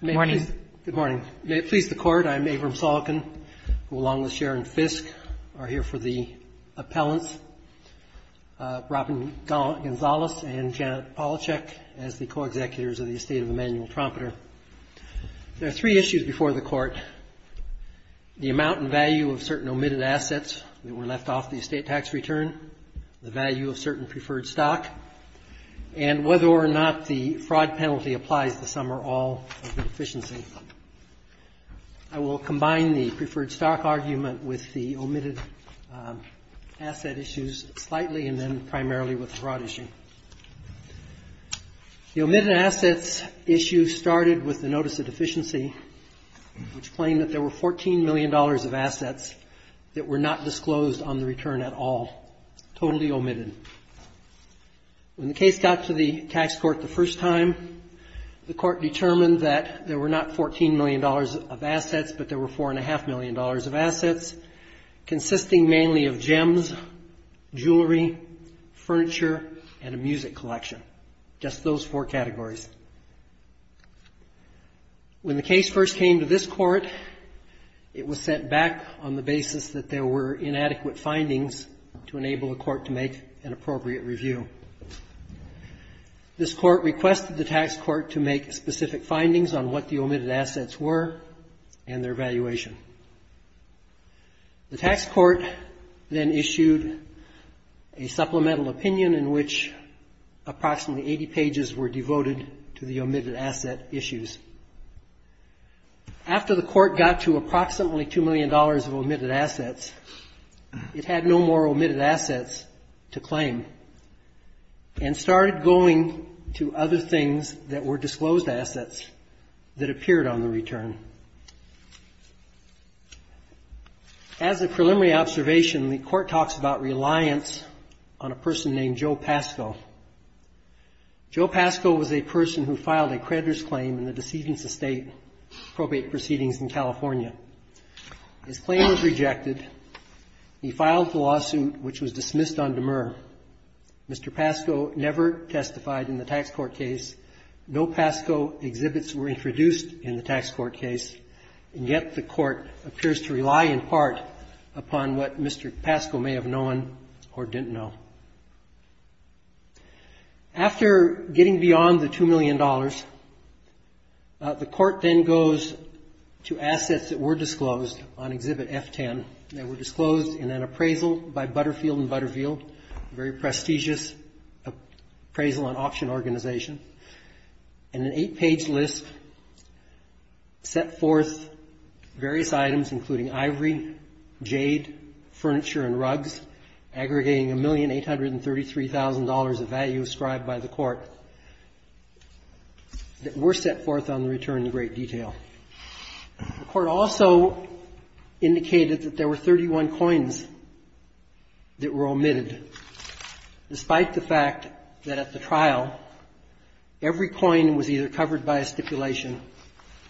Good morning. May it please the Court, I'm Abram Salekin, who along with Sharon Fisk are here for the appellants, Robin Gonzalez and Janet Polacek as the co-executives of the estate of Emanuel Trompeter. There are three issues before the Court. The amount and value of certain omitted assets that were left off the estate tax return, the value of certain preferred stock, and whether or not the fraud penalty applies to some or all of the deficiency. I will combine the preferred stock argument with the omitted asset issues slightly and then primarily with the fraud issue. The omitted assets issue started with the notice of deficiency, which claimed that there were $14 million of assets that were not disclosed on the return at all, totally omitted. When the case got to the tax court the first time, the Court determined that there were not $14 million of assets, but there were $4.5 million of assets consisting mainly of gems, jewelry, furniture, and a music collection, just those four categories. When the case first came to this Court, it was set back on the basis that there were inadequate findings to enable the Court to make an appropriate review. This Court requested the tax court to make specific findings on what the omitted assets were and their valuation. The tax court then issued a supplemental opinion in which approximately 80 pages were devoted to the omitted asset issues. After the Court got to approximately $2 million of omitted assets, it had no more omitted assets to claim and started going to other things that were disclosed assets that appeared on the return. As a preliminary observation, the Court talks about reliance on a person named Joe Pascoe. Joe Pascoe was a person who filed a creditor's claim in the decedent's estate probate proceedings in California. His claim was rejected. He filed the lawsuit, which was dismissed on demur. Mr. Pascoe never testified in the tax court case. No Pascoe exhibits were introduced in the tax court case, and yet the Court appears to rely in part upon what Mr. Pascoe may have known or didn't know. After getting beyond the $2 million, the Court then goes to assets that were disclosed on Exhibit F-10. They were disclosed in an appraisal by Butterfield and Butterfield, a very prestigious appraisal and auction organization, and an 8-page list set forth various items, including ivory, jade, furniture and rugs, aggregating $1,833,000 of value ascribed by the Court, that were set forth on the return in great detail. The Court also indicated that there were 31 coins that were omitted, despite the fact that at the trial, every coin was either covered by a stipulation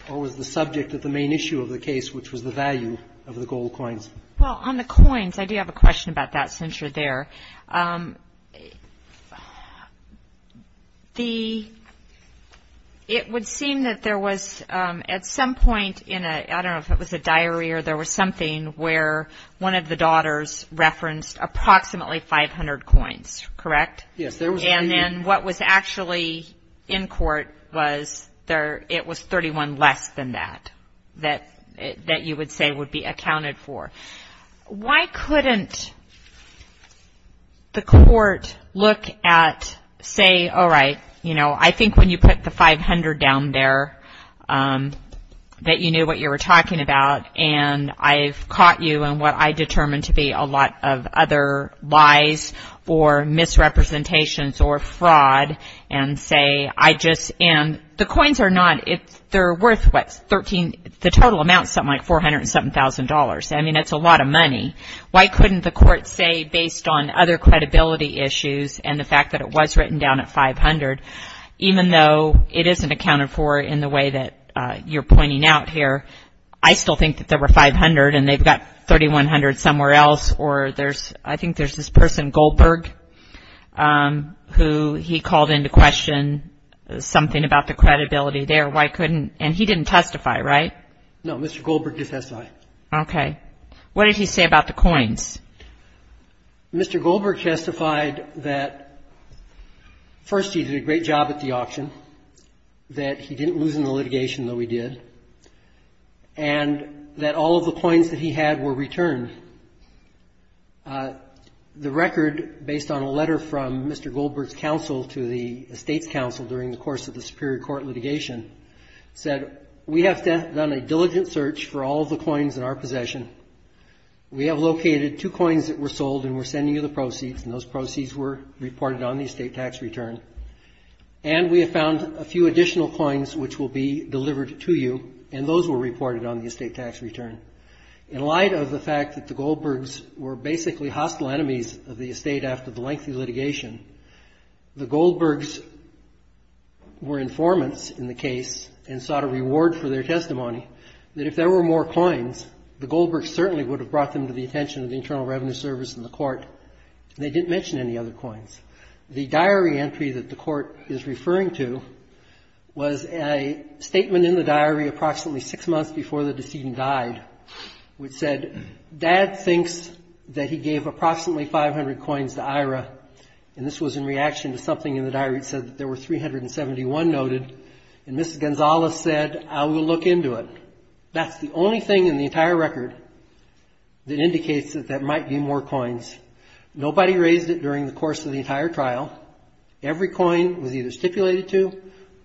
or was the subject of the main issue of the case, which was the value of the gold coins. Well, on the coins, I do have a question about that, since you're there. It would seem that there was, at some point in a, I don't know if it was a diary or there was something where one of the daughters referenced approximately 500 coins, correct? Yes, there was. And then what was actually in court was it was 31 less than that, that you would say would be accounted for. Why couldn't the Court look at, say, all right, you know, I think when you put the 500 down there, that you knew what you were talking about, and I've determined to be a lot of other lies or misrepresentations or fraud and say, I just, and the coins are not, they're worth, what, 13, the total amount is something like $407,000. I mean, that's a lot of money. Why couldn't the Court say, based on other credibility issues and the fact that it was written down at 500, even though it isn't accounted for in the way that you're pointing out here, I still think that there were 500 and they've got 3,100 somewhere else, or there's, I think there's this person, Goldberg, who he called into question something about the credibility there. Why couldn't, and he didn't testify, right? No, Mr. Goldberg did testify. Okay. What did he say about the coins? Mr. Goldberg testified that, first, he did a great job at the auction, that he didn't lose in the litigation, though he did, and that all of the coins that he had were returned. The record, based on a letter from Mr. Goldberg's counsel to the Estates Council during the course of the Superior Court litigation, said, we have done a diligent search for all of the coins in our possession. We have located two coins that were sold and we're sending you the proceeds, and those proceeds were reported on the estate tax return. And we have found a few additional coins which will be delivered to you, and those were reported on the estate tax return. In light of the fact that the Goldbergs were basically hostile enemies of the estate after the lengthy litigation, the Goldbergs were informants in the case and sought a reward for their testimony, that if there were more coins, the Goldbergs certainly would have brought them to the attention of the Internal Revenue Service and the court. They didn't mention any other coins. The diary entry that the court is referring to was a statement in the diary approximately six months before the decedent died, which said, dad thinks that he gave approximately 500 coins to Ira, and this was in reaction to something in the diary that said that there were 371 noted, and Mrs. Gonzalez said, I will look into it. That's the only thing in the entire record that indicates that there might be more coins. Nobody raised it during the course of the entire trial. Every coin was either stipulated to,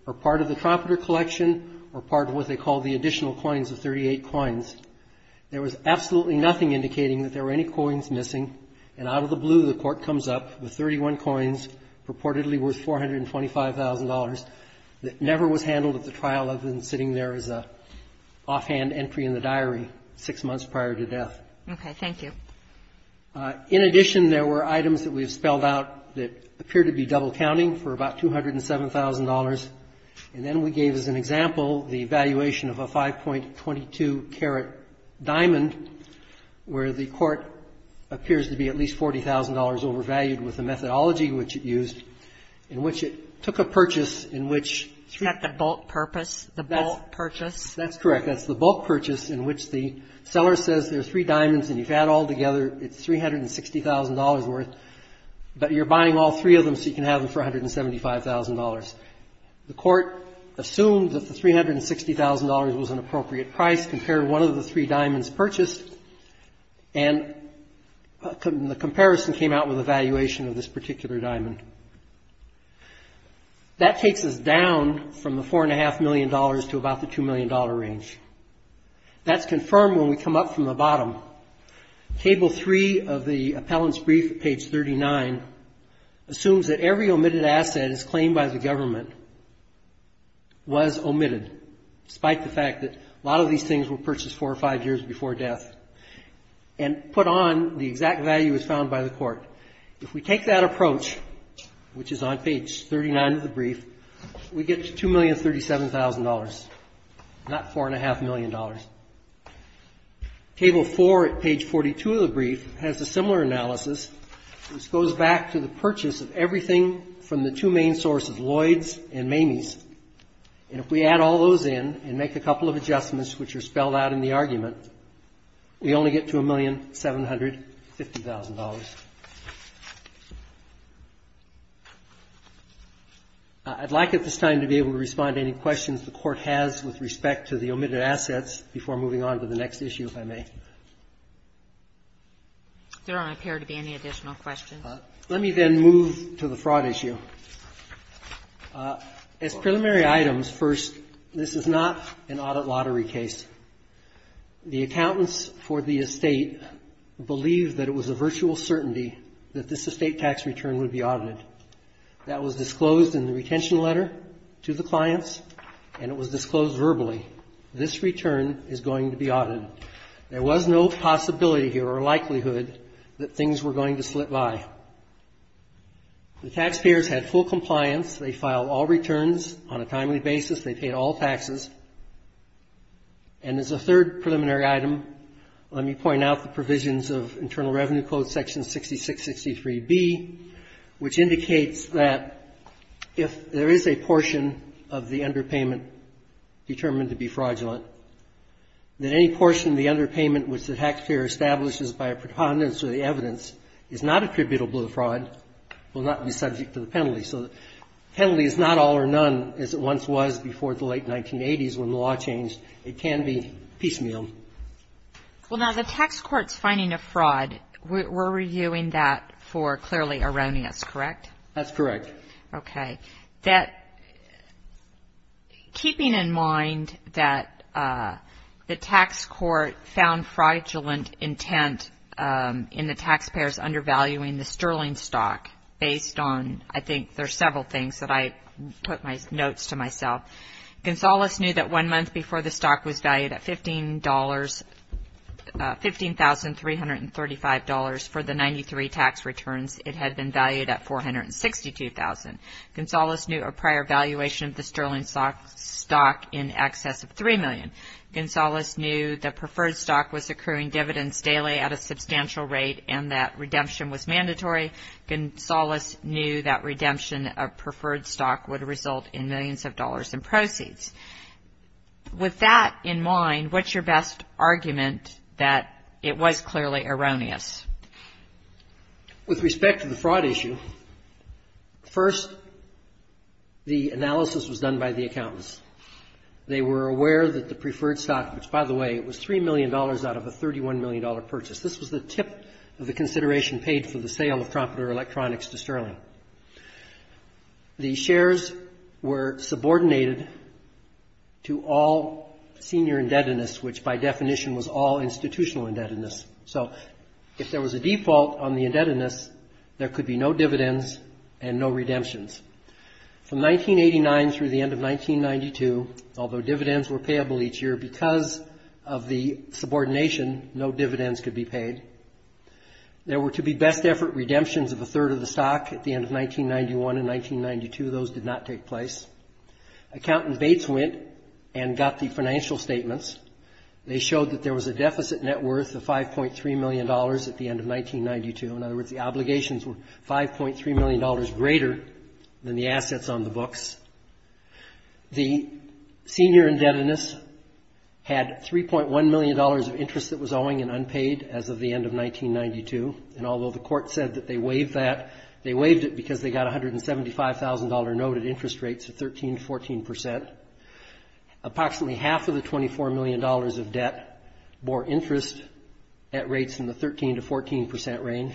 or part of the trumpeter collection, or part of what they call the additional coins of 38 coins. There was absolutely nothing indicating that there were any coins missing, and out of the blue, the court comes up with 31 coins purportedly worth $425,000 that never was handled at the trial other than sitting there as an offhand entry in the diary six months before the decedent died. Thank you. In addition, there were items that we have spelled out that appear to be double counting for about $207,000, and then we gave as an example the valuation of a 5.22 carat diamond where the court appears to be at least $40,000 overvalued with the methodology which it used, in which it took a purchase in which three of the three diamonds were purchased. Is that the bulk purpose, the bulk purchase? That's correct. That's the bulk purchase in which the seller says there are three diamonds and you've had all together, it's $360,000 worth, but you're buying all three of them so you can have them for $175,000. The court assumed that the $360,000 was an appropriate price, compared one of the three diamonds purchased, and the comparison came out with a valuation of this particular diamond. That takes us down from the $4.5 million to about the $2 million range. That's confirmed when we come up from the bottom. Table 3 of the appellant's brief at page 39 assumes that every omitted asset as claimed by the government was omitted, despite the fact that a lot of these things were purchased four or five years before death, and put on the exact value as found by the court. If we take that approach, which is on page 39 of the brief, we get $2,037,000. Not $4.5 million. Table 4 at page 42 of the brief has a similar analysis, which goes back to the purchase of everything from the two main sources, Lloyd's and Mamie's. And if we add all those in and make a couple of adjustments which are spelled out in the argument, we only get to $1,750,000. I'd like at this time to be able to respond to any questions the Court has with respect to the omitted assets before moving on to the next issue, if I may. There don't appear to be any additional questions. Let me then move to the fraud issue. As preliminary items, first, this is not an audit lottery case. The accountants for the estate believed that it was a virtual certainty that this estate tax return would be audited. That was disclosed in the retention letter to the clients, and it was disclosed verbally. This return is going to be audited. There was no possibility here or likelihood that things were going to slip by. The taxpayers had full compliance. They filed all returns on a timely basis. They paid all And as a third preliminary item, let me point out the provisions of Internal Revenue Code Section 6663B, which indicates that if there is a portion of the underpayment determined to be fraudulent, that any portion of the underpayment which the taxpayer establishes by a preponderance of the evidence is not attributable to fraud, will not be subject to the penalty. So the penalty is not all or none, as it once was before the late 1980s when the law changed. It can be piecemeal. Well, now, the tax court's finding of fraud, we're reviewing that for clearly erroneous, correct? That's correct. Okay. Keeping in mind that the tax court found fraudulent intent in the taxpayers undervaluing the sterling stock based on, I think there's several things that I put my notes to myself. Gonzales knew that one month before the stock was valued at $15,335 for the 93 tax returns, it had been valued at $462,000. Gonzales knew a prior valuation of the sterling stock in excess of $3 million. Gonzales knew the preferred stock was accruing dividends daily at a substantial rate and that redemption was mandatory. Gonzales knew that redemption of preferred stock would result in millions of dollars in proceeds. With that in mind, what's your best argument that it was clearly erroneous? With respect to the fraud issue, first, the analysis was done by the accountants. They were aware that the preferred stock, which, by the way, it was $3 million out of a $31 million purchase. This was the tip of the consideration paid for the sale of Trompedore Electronics to Sterling. The shares were subordinated to all senior indebtedness, which by definition was all institutional indebtedness. If there was a default on the indebtedness, there could be no dividends and no redemptions. From 1989 through the end of 1992, although dividends were payable each year because of the subordination, no dividends could be paid. There were to be best effort redemptions of a third of the stock at the end of 1991 and 1992. Those did not take place. Accountant Bates went and got the financial statements. They showed that there was a deficit net worth of $5.3 million at the end of 1992. In other words, the obligations were $5.3 million greater than the assets on the books. The senior indebtedness had $3.1 million of interest that was owing and unpaid as of the court said that they waived that. They waived it because they got a $175,000 note at interest rates of 13 to 14 percent. Approximately half of the $24 million of debt bore interest at rates in the 13 to 14 percent range.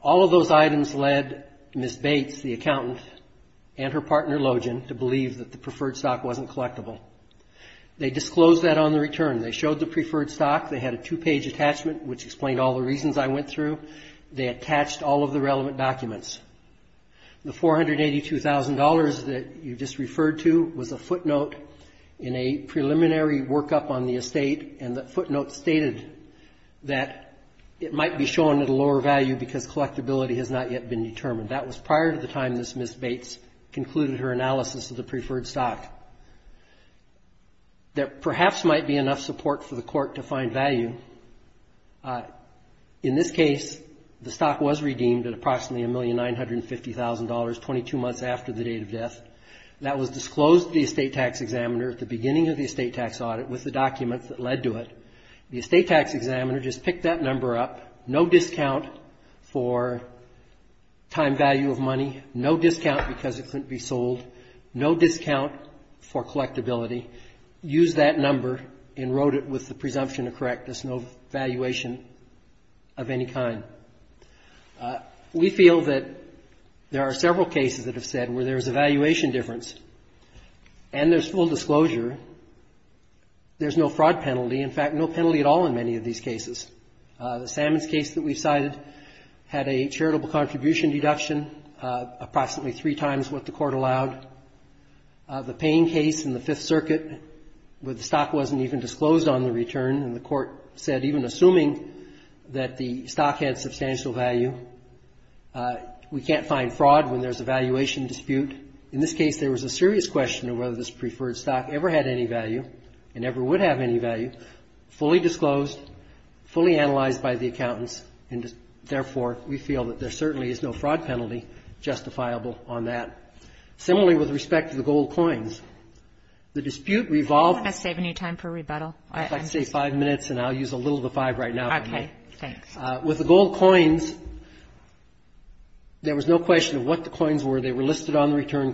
All of those items led Ms. Bates, the accountant, and her partner, Logen, to believe that the preferred stock wasn't collectible. They disclosed that on the return. They showed the preferred stock. They had a two-page attachment, which they attached all of the relevant documents. The $482,000 that you just referred to was a footnote in a preliminary workup on the estate, and that footnote stated that it might be shown at a lower value because collectibility has not yet been determined. That was prior to the time that Ms. Bates concluded her analysis of the preferred stock. There perhaps might be enough support for the court to find value. In this case, the stock was redeemed at approximately $1,950,000, 22 months after the date of death. That was disclosed to the estate tax examiner at the beginning of the estate tax audit with the documents that led to it. The estate tax examiner just picked that number up. No discount for collectibility. Used that number and wrote it with the presumption of correctness. No valuation of any kind. We feel that there are several cases that have said where there is a valuation difference, and there's full disclosure. There's no fraud penalty. In fact, no penalty at all in many of these cases. The Sammons case that we cited had a charitable contribution deduction, approximately three times what the court allowed. The Payne case in the Fifth Circuit where the stock wasn't even disclosed on the return, and the court said even assuming that the stock had substantial value, we can't find fraud when there's a valuation dispute. In this case, there was a serious question of whether this preferred stock ever had any value and ever would have any value. Fully disclosed, fully analyzed by the accountants, and therefore, we feel that there certainly is no fraud penalty justifiable on that. Similarly, with respect to the gold coins, the dispute revolved on the return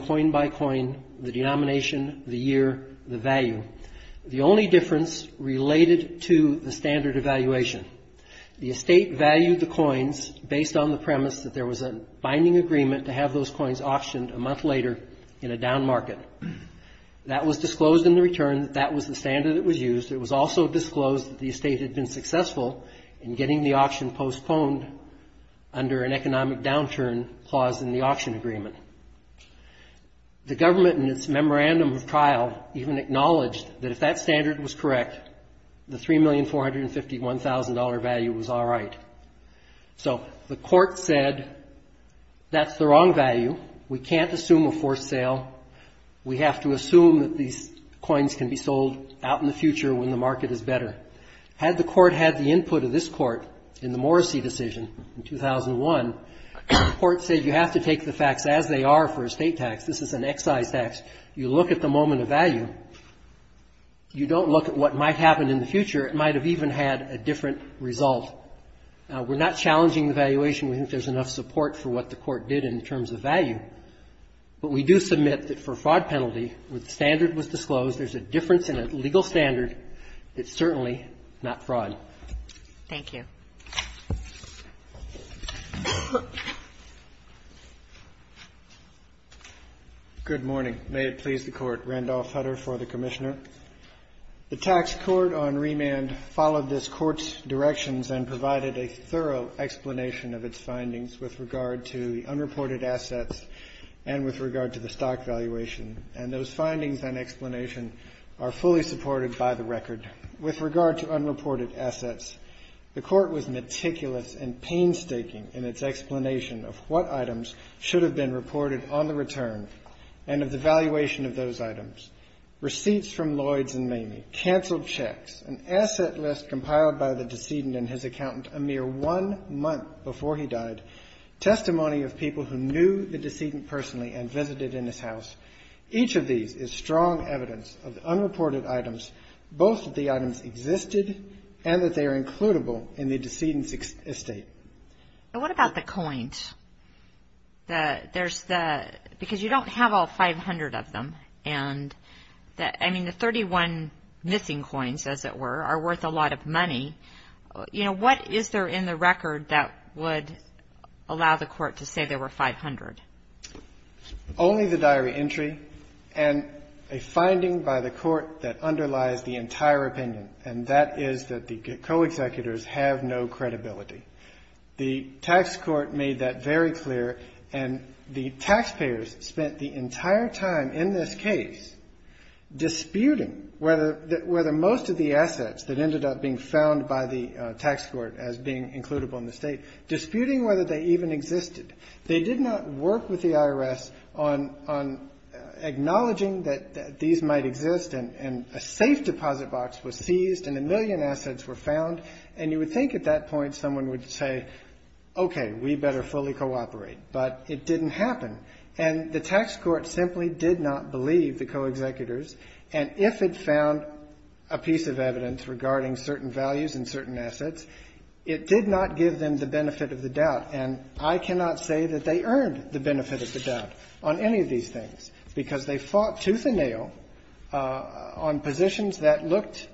coin-by-coin, the denomination, the year, the value. The only difference is that the estate valued the coins based on the premise that there was a binding agreement to have those coins auctioned a month later in a down market. That was disclosed in the return. That was the standard that was used. It was also disclosed that the estate had been successful in getting the auction postponed under an economic downturn clause in the auction agreement. The government in its memorandum of trial even acknowledged that if that standard was correct, the $3,451,000 value was all right. So the court said that's the wrong value. We can't assume a forced sale. We have to assume that these coins can be sold out in the future when the market is better. Had the court had the input of this court in the Morrissey decision in 2001, the court said you have to take the facts as they are for a state tax. This is an excise tax. You look at the moment of value. You don't look at what might happen in the future. It might have even had a different result. We're not challenging the valuation. We think there's enough support for what the court did in terms of value. But we do submit that for a fraud penalty, the standard was disclosed. There's a difference in a legal standard. It's certainly not fraud. Thank you. Good morning. May it please the Court. Randolph Hutter for the Commissioner. The tax court on remand followed this court's directions and provided a thorough explanation of its findings with regard to the unreported assets and with regard to the stock valuation. And those findings and explanation are fully supported by the record. With regard to unreported assets, the court was meticulous and painstaking in its explanation of what items should have been reported on the return and of the valuation of those items. Receipts from Lloyds and Mamie, canceled checks, an asset list compiled by the decedent and his accountant a mere one month before he died, testimony of people who knew the decedent personally and visited in his house. Each of these is strong evidence of the unreported items, both that the items existed and that they are includable in the decedent's estate. And what about the coins? There's the, because you don't have all 500 of them and I mean the 31 missing coins, as it were, are worth a lot of money. You know, what is there in the record that would allow the court to say there were 500? Only the diary entry and a finding by the court that underlies the entire opinion, and that is that the co-executors have no credibility. The tax court made that very clear, and the taxpayers spent the entire time in this case disputing whether most of the assets that ended up being found by the tax court as being includable in the estate, disputing whether they even existed. They did not work with the IRS on acknowledging that these might exist and a safe deposit box was seized and a million assets were found, and you would think at that point someone would say, okay, we better fully cooperate, but it didn't happen. And the tax court simply did not believe the co-executors, and if it found a piece of evidence regarding certain values and certain assets, it did not give them the benefit of the doubt, and I cannot say that they earned the benefit of the doubt on any of these things, because they fought tooth and nail on positions that looked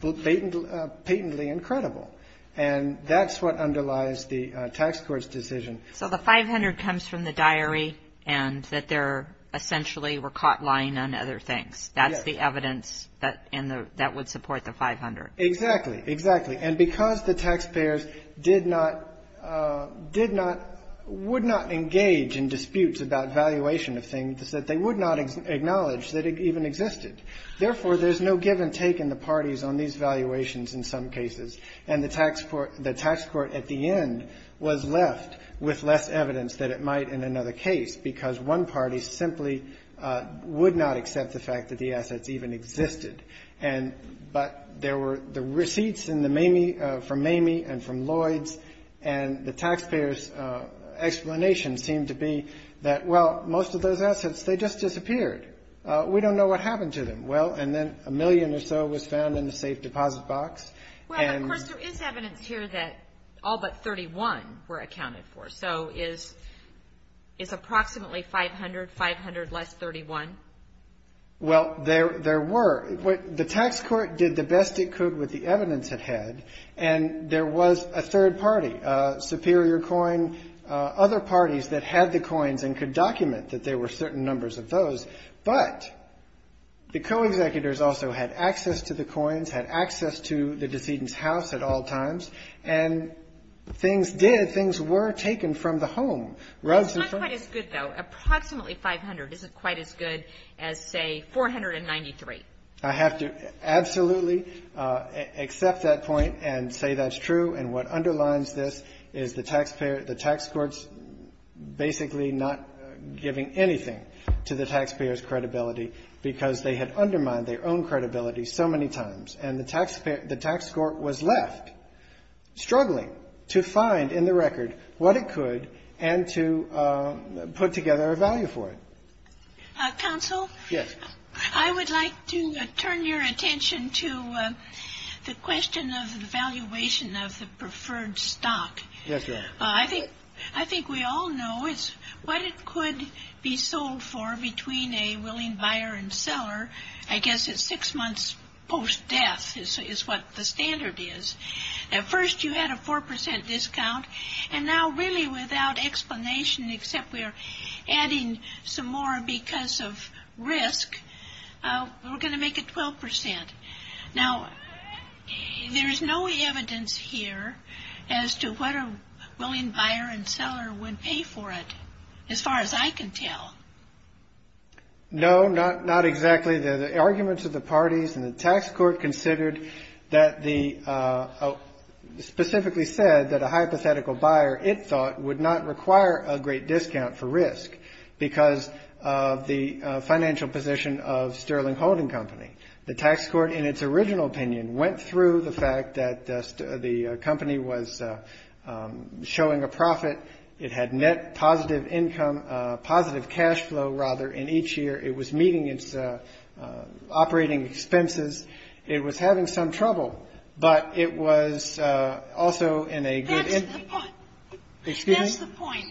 patently incredible, and that's what underlies the tax court's decision. So the 500 comes from the diary, and that there essentially were caught lying on other things. That's the evidence that would support the 500. Exactly, exactly. And because the taxpayers would not engage in disputes about valuation of things, they would not acknowledge that it even existed. Therefore, there's no give and take in the parties on these valuations in some cases, and the tax court at the end was left with less evidence that it might in another case, because one party simply would not accept the fact that the assets even existed. But there were the receipts from Mamie and from Lloyds, and the taxpayers' explanation seemed to be that, well, most of those assets, they just disappeared. We don't know what happened to them. Well, and then a million or so was found in the safe deposit box. Well, of course, there is evidence here that all but 31 were accounted for. So is approximately 500, 500 less 31? Well, there were. The tax court did the best it could with the evidence it had, and there was a third party, Superior Coin, other parties that had the coins and could document that there were certain numbers of those. But the co-executors also had access to the coins, had access to the decedent's house at all times, and things did, things were taken from the home. It's not quite as good, though. Approximately 500 isn't quite as good as, say, 493. I have to absolutely accept that point and say that's true, and what underlines this is the taxpayer, the tax court's basically not giving anything to the taxpayer's credibility because they had undermined their own credibility so many times. And the taxpayer, the tax court was left struggling to find in the record what it could and to put together a value for it. Counsel? Yes. I would like to turn your attention to the question of the valuation of the preferred stock. I think we all know what it could be sold for between a willing buyer and seller, I guess it's six months post-death is what the standard is. At first you had a 4% discount, and now really without explanation except we're adding some more because of risk, we're going to make it 12%. Now, there is no evidence here as to what a willing buyer and seller would pay for it, as far as I can tell. No, not exactly. The arguments of the parties and the tax court considered that the, specifically said that a hypothetical buyer, it thought, would not require a great discount for risk because of the financial position of Sterling Holding Company. The tax court, in its original opinion, went through the fact that the company was showing a profit. It had net positive income, positive cash flow, rather, in each year. It was meeting its operating expenses. It was having some trouble, but it was also in a good position. Excuse me? That's the point.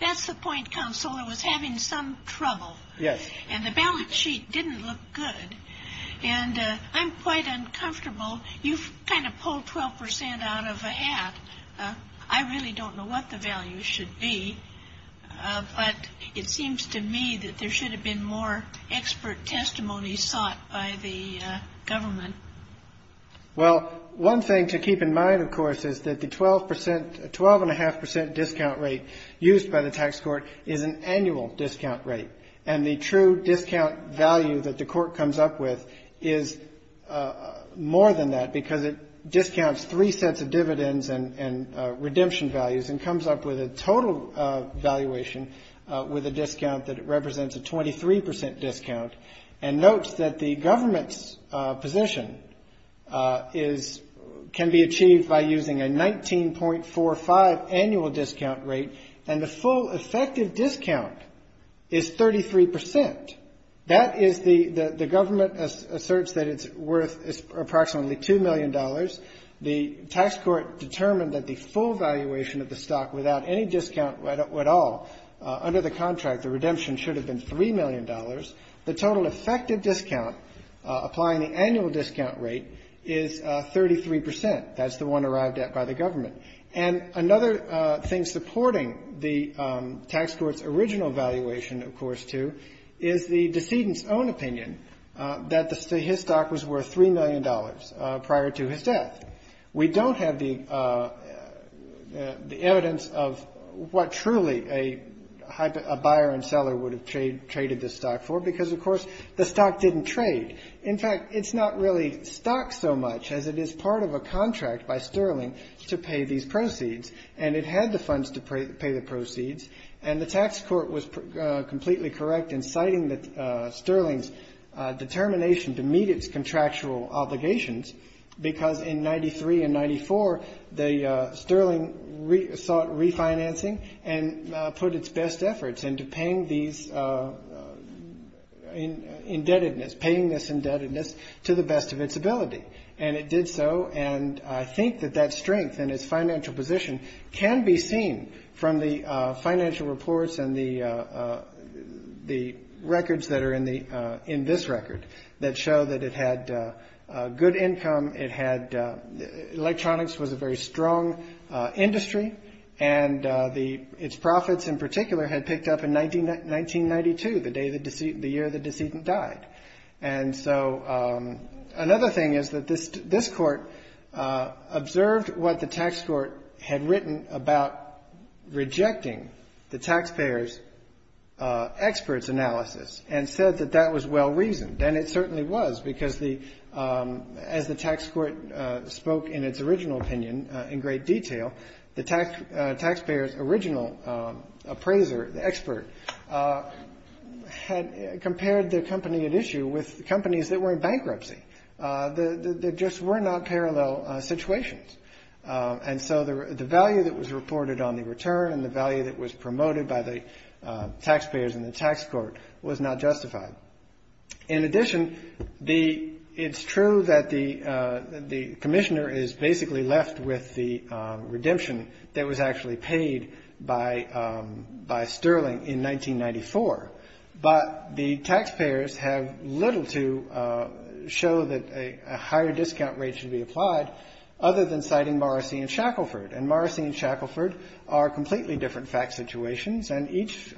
That's the point, Counselor. It was having some trouble. Yes. And the balance sheet didn't look good. And I'm quite uncomfortable. You've kind of pulled 12% out of a hat. I really don't know what the value should be, but it seems to me that there should have been more expert testimony sought by the the tax court is an annual discount rate. And the true discount value that the court comes up with is more than that, because it discounts three sets of dividends and redemption values and comes up with a total valuation with a discount that represents a 23% discount and notes that the government's position can be achieved by using a 19.45 annual discount rate and the full effective discount is 33%. The government asserts that it's worth approximately $2 million. The tax court determined that the full valuation of the stock without any discount at all under the contract, the annual discount rate, is 33%. That's the one arrived at by the government. And another thing supporting the tax court's original valuation, of course, too, is the decedent's own opinion that his stock was worth $3 million prior to his death. We don't have the evidence of what truly a buyer and seller would have traded this stock for, because, of course, the stock didn't trade. In fact, it's not really stock so much as it is part of a contract by Sterling to pay these proceeds. And it had the funds to pay the proceeds. And the tax court was completely correct in citing Sterling's determination to meet its contractual obligations, because in 93 and 94, Sterling sought refinancing and put its best efforts into paying these indebtedness, paying this indebtedness to the best of its ability. And it did so. And I think that that strength and its financial position can be seen from the financial reports and the records that are in this record that show that it had good income. It had electronics. It was a very strong industry. And its profits in particular had picked up in 1992, the year the decedent died. And so another thing is that this court observed what the tax court had written about rejecting the taxpayers' experts' analysis and said that that was well-reasoned. And it certainly was, because as the tax court spoke in its original opinion in great detail, the taxpayers' original appraiser, the expert, had compared the company at issue with companies that were in bankruptcy. There just were not parallel situations. And so the value that was reported on the return and the value that was promoted by the taxpayers in the tax court was not justified. In addition, it's true that the commissioner is basically left with the redemption that was actually paid by Sterling in 1994. But the taxpayers have little to show that a higher discount rate should be applied other than citing Morrissey and Shackleford. And Morrissey and Shackleford are completely different fact situations. And each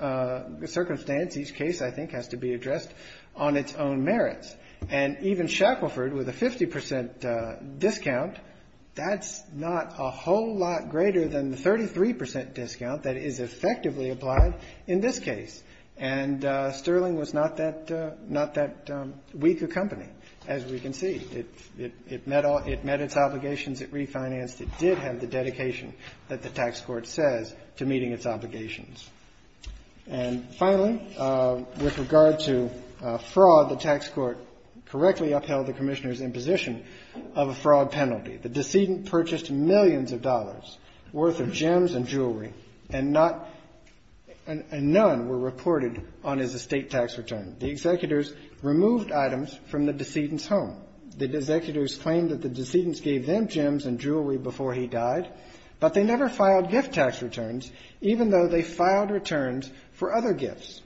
circumstance, each case, I think, has to be addressed on its own merits. And even Shackleford, with a 50 percent discount, that's not a whole lot greater than the 33 percent discount that is effectively applied in this case. And Sterling was not that weak a company, as we can see. It met its obligations. It refinanced. It did have the dedication that the tax court says to meeting its obligations. And finally, with regard to fraud, the tax court correctly upheld the commissioner's imposition of a fraud penalty. The decedent purchased millions of dollars' worth of gems and jewelry and none were reported on his estate tax return. The executors removed items from the decedent's home. The executors claimed that the decedents gave them gems and jewelry before he died, but they never filed gift tax returns, even though they filed returns for other gifts.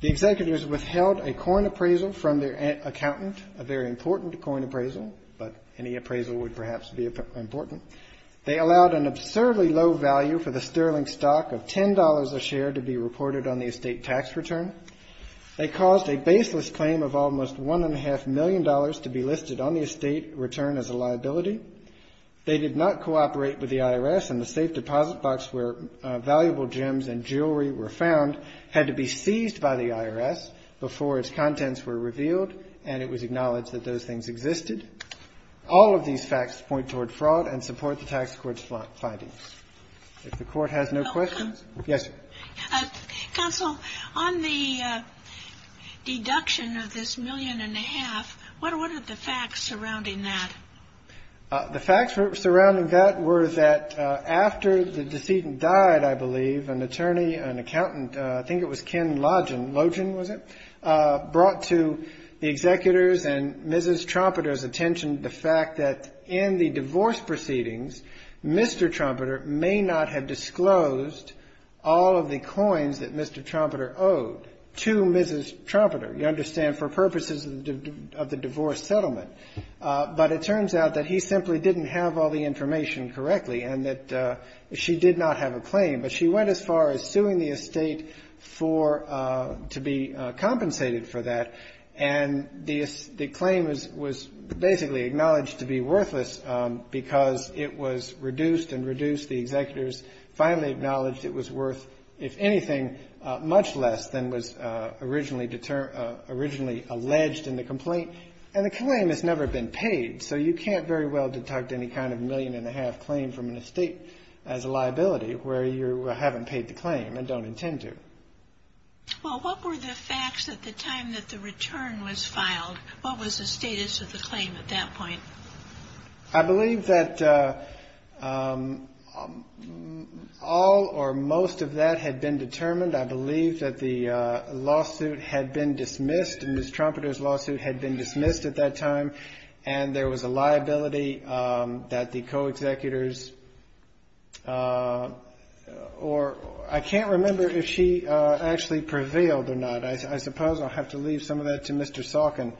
The executors withheld a coin appraisal from their accountant, a very important coin appraisal, but any appraisal would perhaps be important. They allowed an absurdly low value for the Sterling stock of $10 a share to be reported on the estate tax return. They caused a baseless claim of almost $1.5 million to be listed on the estate return as a liability. They did not cooperate with the IRS, and the safe deposit box where valuable gems and jewelry were found had to be seized by the IRS before its tax point toward fraud and support the tax court's findings. If the court has no questions? Yes. Counsel, on the deduction of this million and a half, what are the facts surrounding that? The facts surrounding that were that after the decedent died, I believe, an attorney, an accountant, I think it was Ken Logen, was it, brought to the executors and Mrs. Trumpeter's attention the fact that in the divorce proceedings, Mr. Trumpeter may not have disclosed all of the coins that Mr. Trumpeter owed to Mrs. Trumpeter, you understand, for purposes of the divorce settlement. But it turns out that he simply didn't have all the information correctly and that she did not have a claim, but she went as far as suing the estate for to be compensated for that. And the claim was basically acknowledged to be worthless because it was reduced and reduced. The executors finally acknowledged it was worth, if anything, much less than was originally alleged in the complaint. And the claim has never been paid, so you can't very well deduct any kind of million and a half claim from an estate as a liability, where you haven't paid the claim and don't intend to. Well, what were the facts at the time that the return was filed? What was the status of the claim at that point? I believe that all or most of that had been determined. I believe that the lawsuit had been dismissed and Mrs. Trumpeter's lawsuit had been dismissed at that time. And there was a liability that the co-executors or I can't remember if she actually prevailed or not. I suppose I'll have to leave some of that to Mr. Salkin.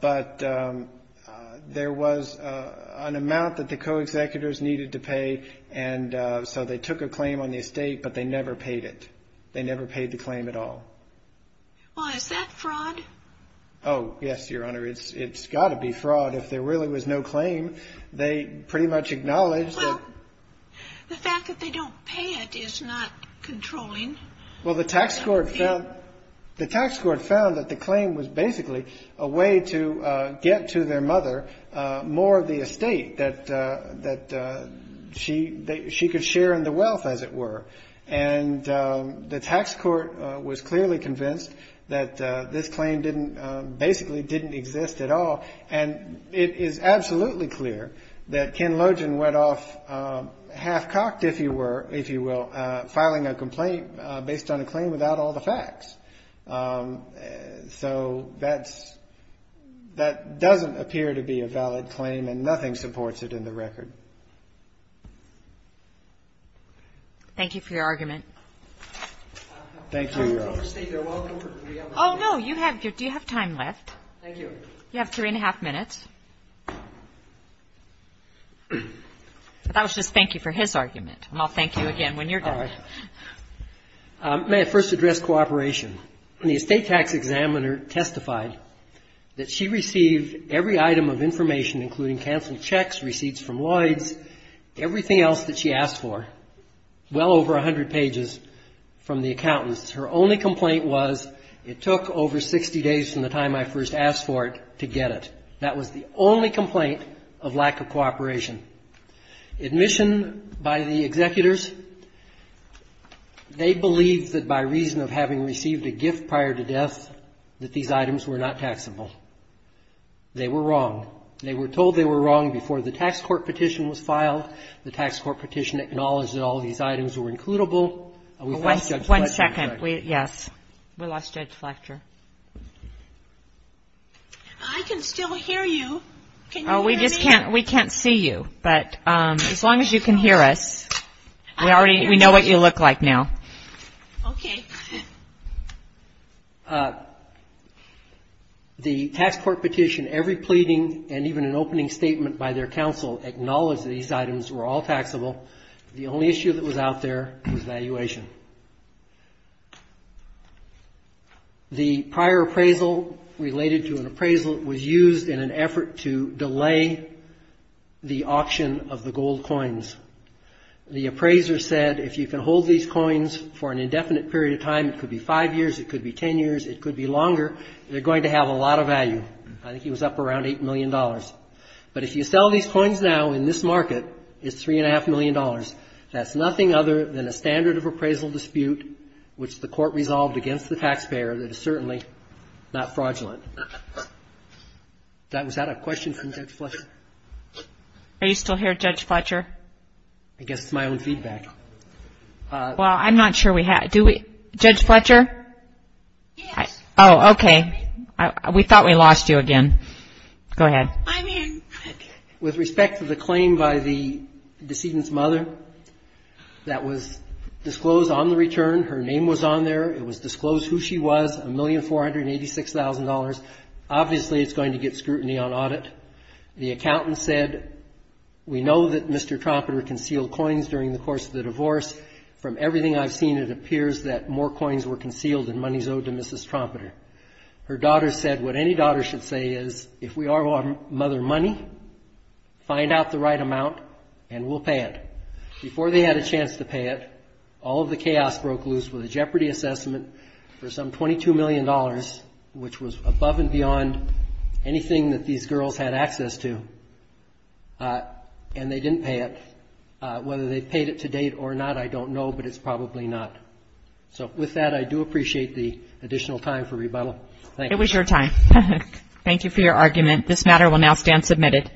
But there was an amount that the co-executors needed to pay, and so they took a claim on the estate, but they never paid it. They never paid the claim at all. Well, is that fraud? Oh, yes, Your Honor. It's got to be fraud. If there really was no claim, they pretty much acknowledged that... Well, the fact that they don't pay it is not controlling. Well, the tax court found that the claim was basically a way to get to their mother more of the estate that she could share in the wealth, as it were. And the tax court was clearly convinced that this claim basically didn't exist at all. And it is absolutely clear that Ken Lojan went off half-cocked, if you will, filing a complaint based on a claim without all the facts. So that doesn't appear to be a valid claim, and nothing supports it in the record. Thank you for your argument. Oh, no, you have time left. You have three and a half minutes. That was just thank you for his argument, and I'll thank you again when you're done. May I first address cooperation? The estate tax examiner testified that she received every item of information, including canceled checks, receipts from Lloyd's, everything else that she asked for, well over 100 pages from the accountants. Her only complaint was, it took over 60 days from the time I first asked for it to get it. That was the only complaint of lack of cooperation. Admission by the executors, they believed that by reason of having received a canceled check, they were not taxable. They were wrong. They were told they were wrong before the tax court petition was filed. The tax court petition acknowledged that all of these items were includable. One second. Yes. We lost Judge Fletcher. I can still hear you. Can you hear me? We can't see you, but as long as you can hear us, we know what you look like now. Okay. The tax court petition, every pleading and even an opening statement by their counsel, acknowledged that these items were all taxable. The only issue that was out there was valuation. The prior appraisal related to an appraisal was used in an effort to increase the value of these coins. The appraiser said, if you can hold these coins for an indefinite period of time, it could be five years, it could be ten years, it could be longer, they're going to have a lot of value. I think he was up around $8 million. But if you sell these coins now in this market, it's $3.5 million. That's nothing other than a standard of appraisal dispute, which the court resolved against the taxpayer that is certainly not fraudulent. Well, I'm not sure we have. Do we? Judge Fletcher? Oh, okay. We thought we lost you again. Go ahead. With respect to the claim by the decedent's mother that was disclosed on the return, her name was on there. It was disclosed who she was, $1,486,000. Obviously, it's going to get scrutiny on audit. The accountant said, we know that Mr. Trompeter concealed coins during the course of the divorce. From everything I've seen, it appears that more coins were concealed than monies owed to Mrs. Trompeter. Her daughter said, what any daughter should say is, if we owe our mother money, find out the right amount and we'll pay it. Before they had a chance to pay it, all of the chaos broke loose with a jeopardy assessment for some $22 million, which was above and below what they had access to, and they didn't pay it. Whether they paid it to date or not, I don't know, but it's probably not. So, with that, I do appreciate the additional time for rebuttal. Thank you. It was your time. Thank you for your argument. This matter will now stand submitted.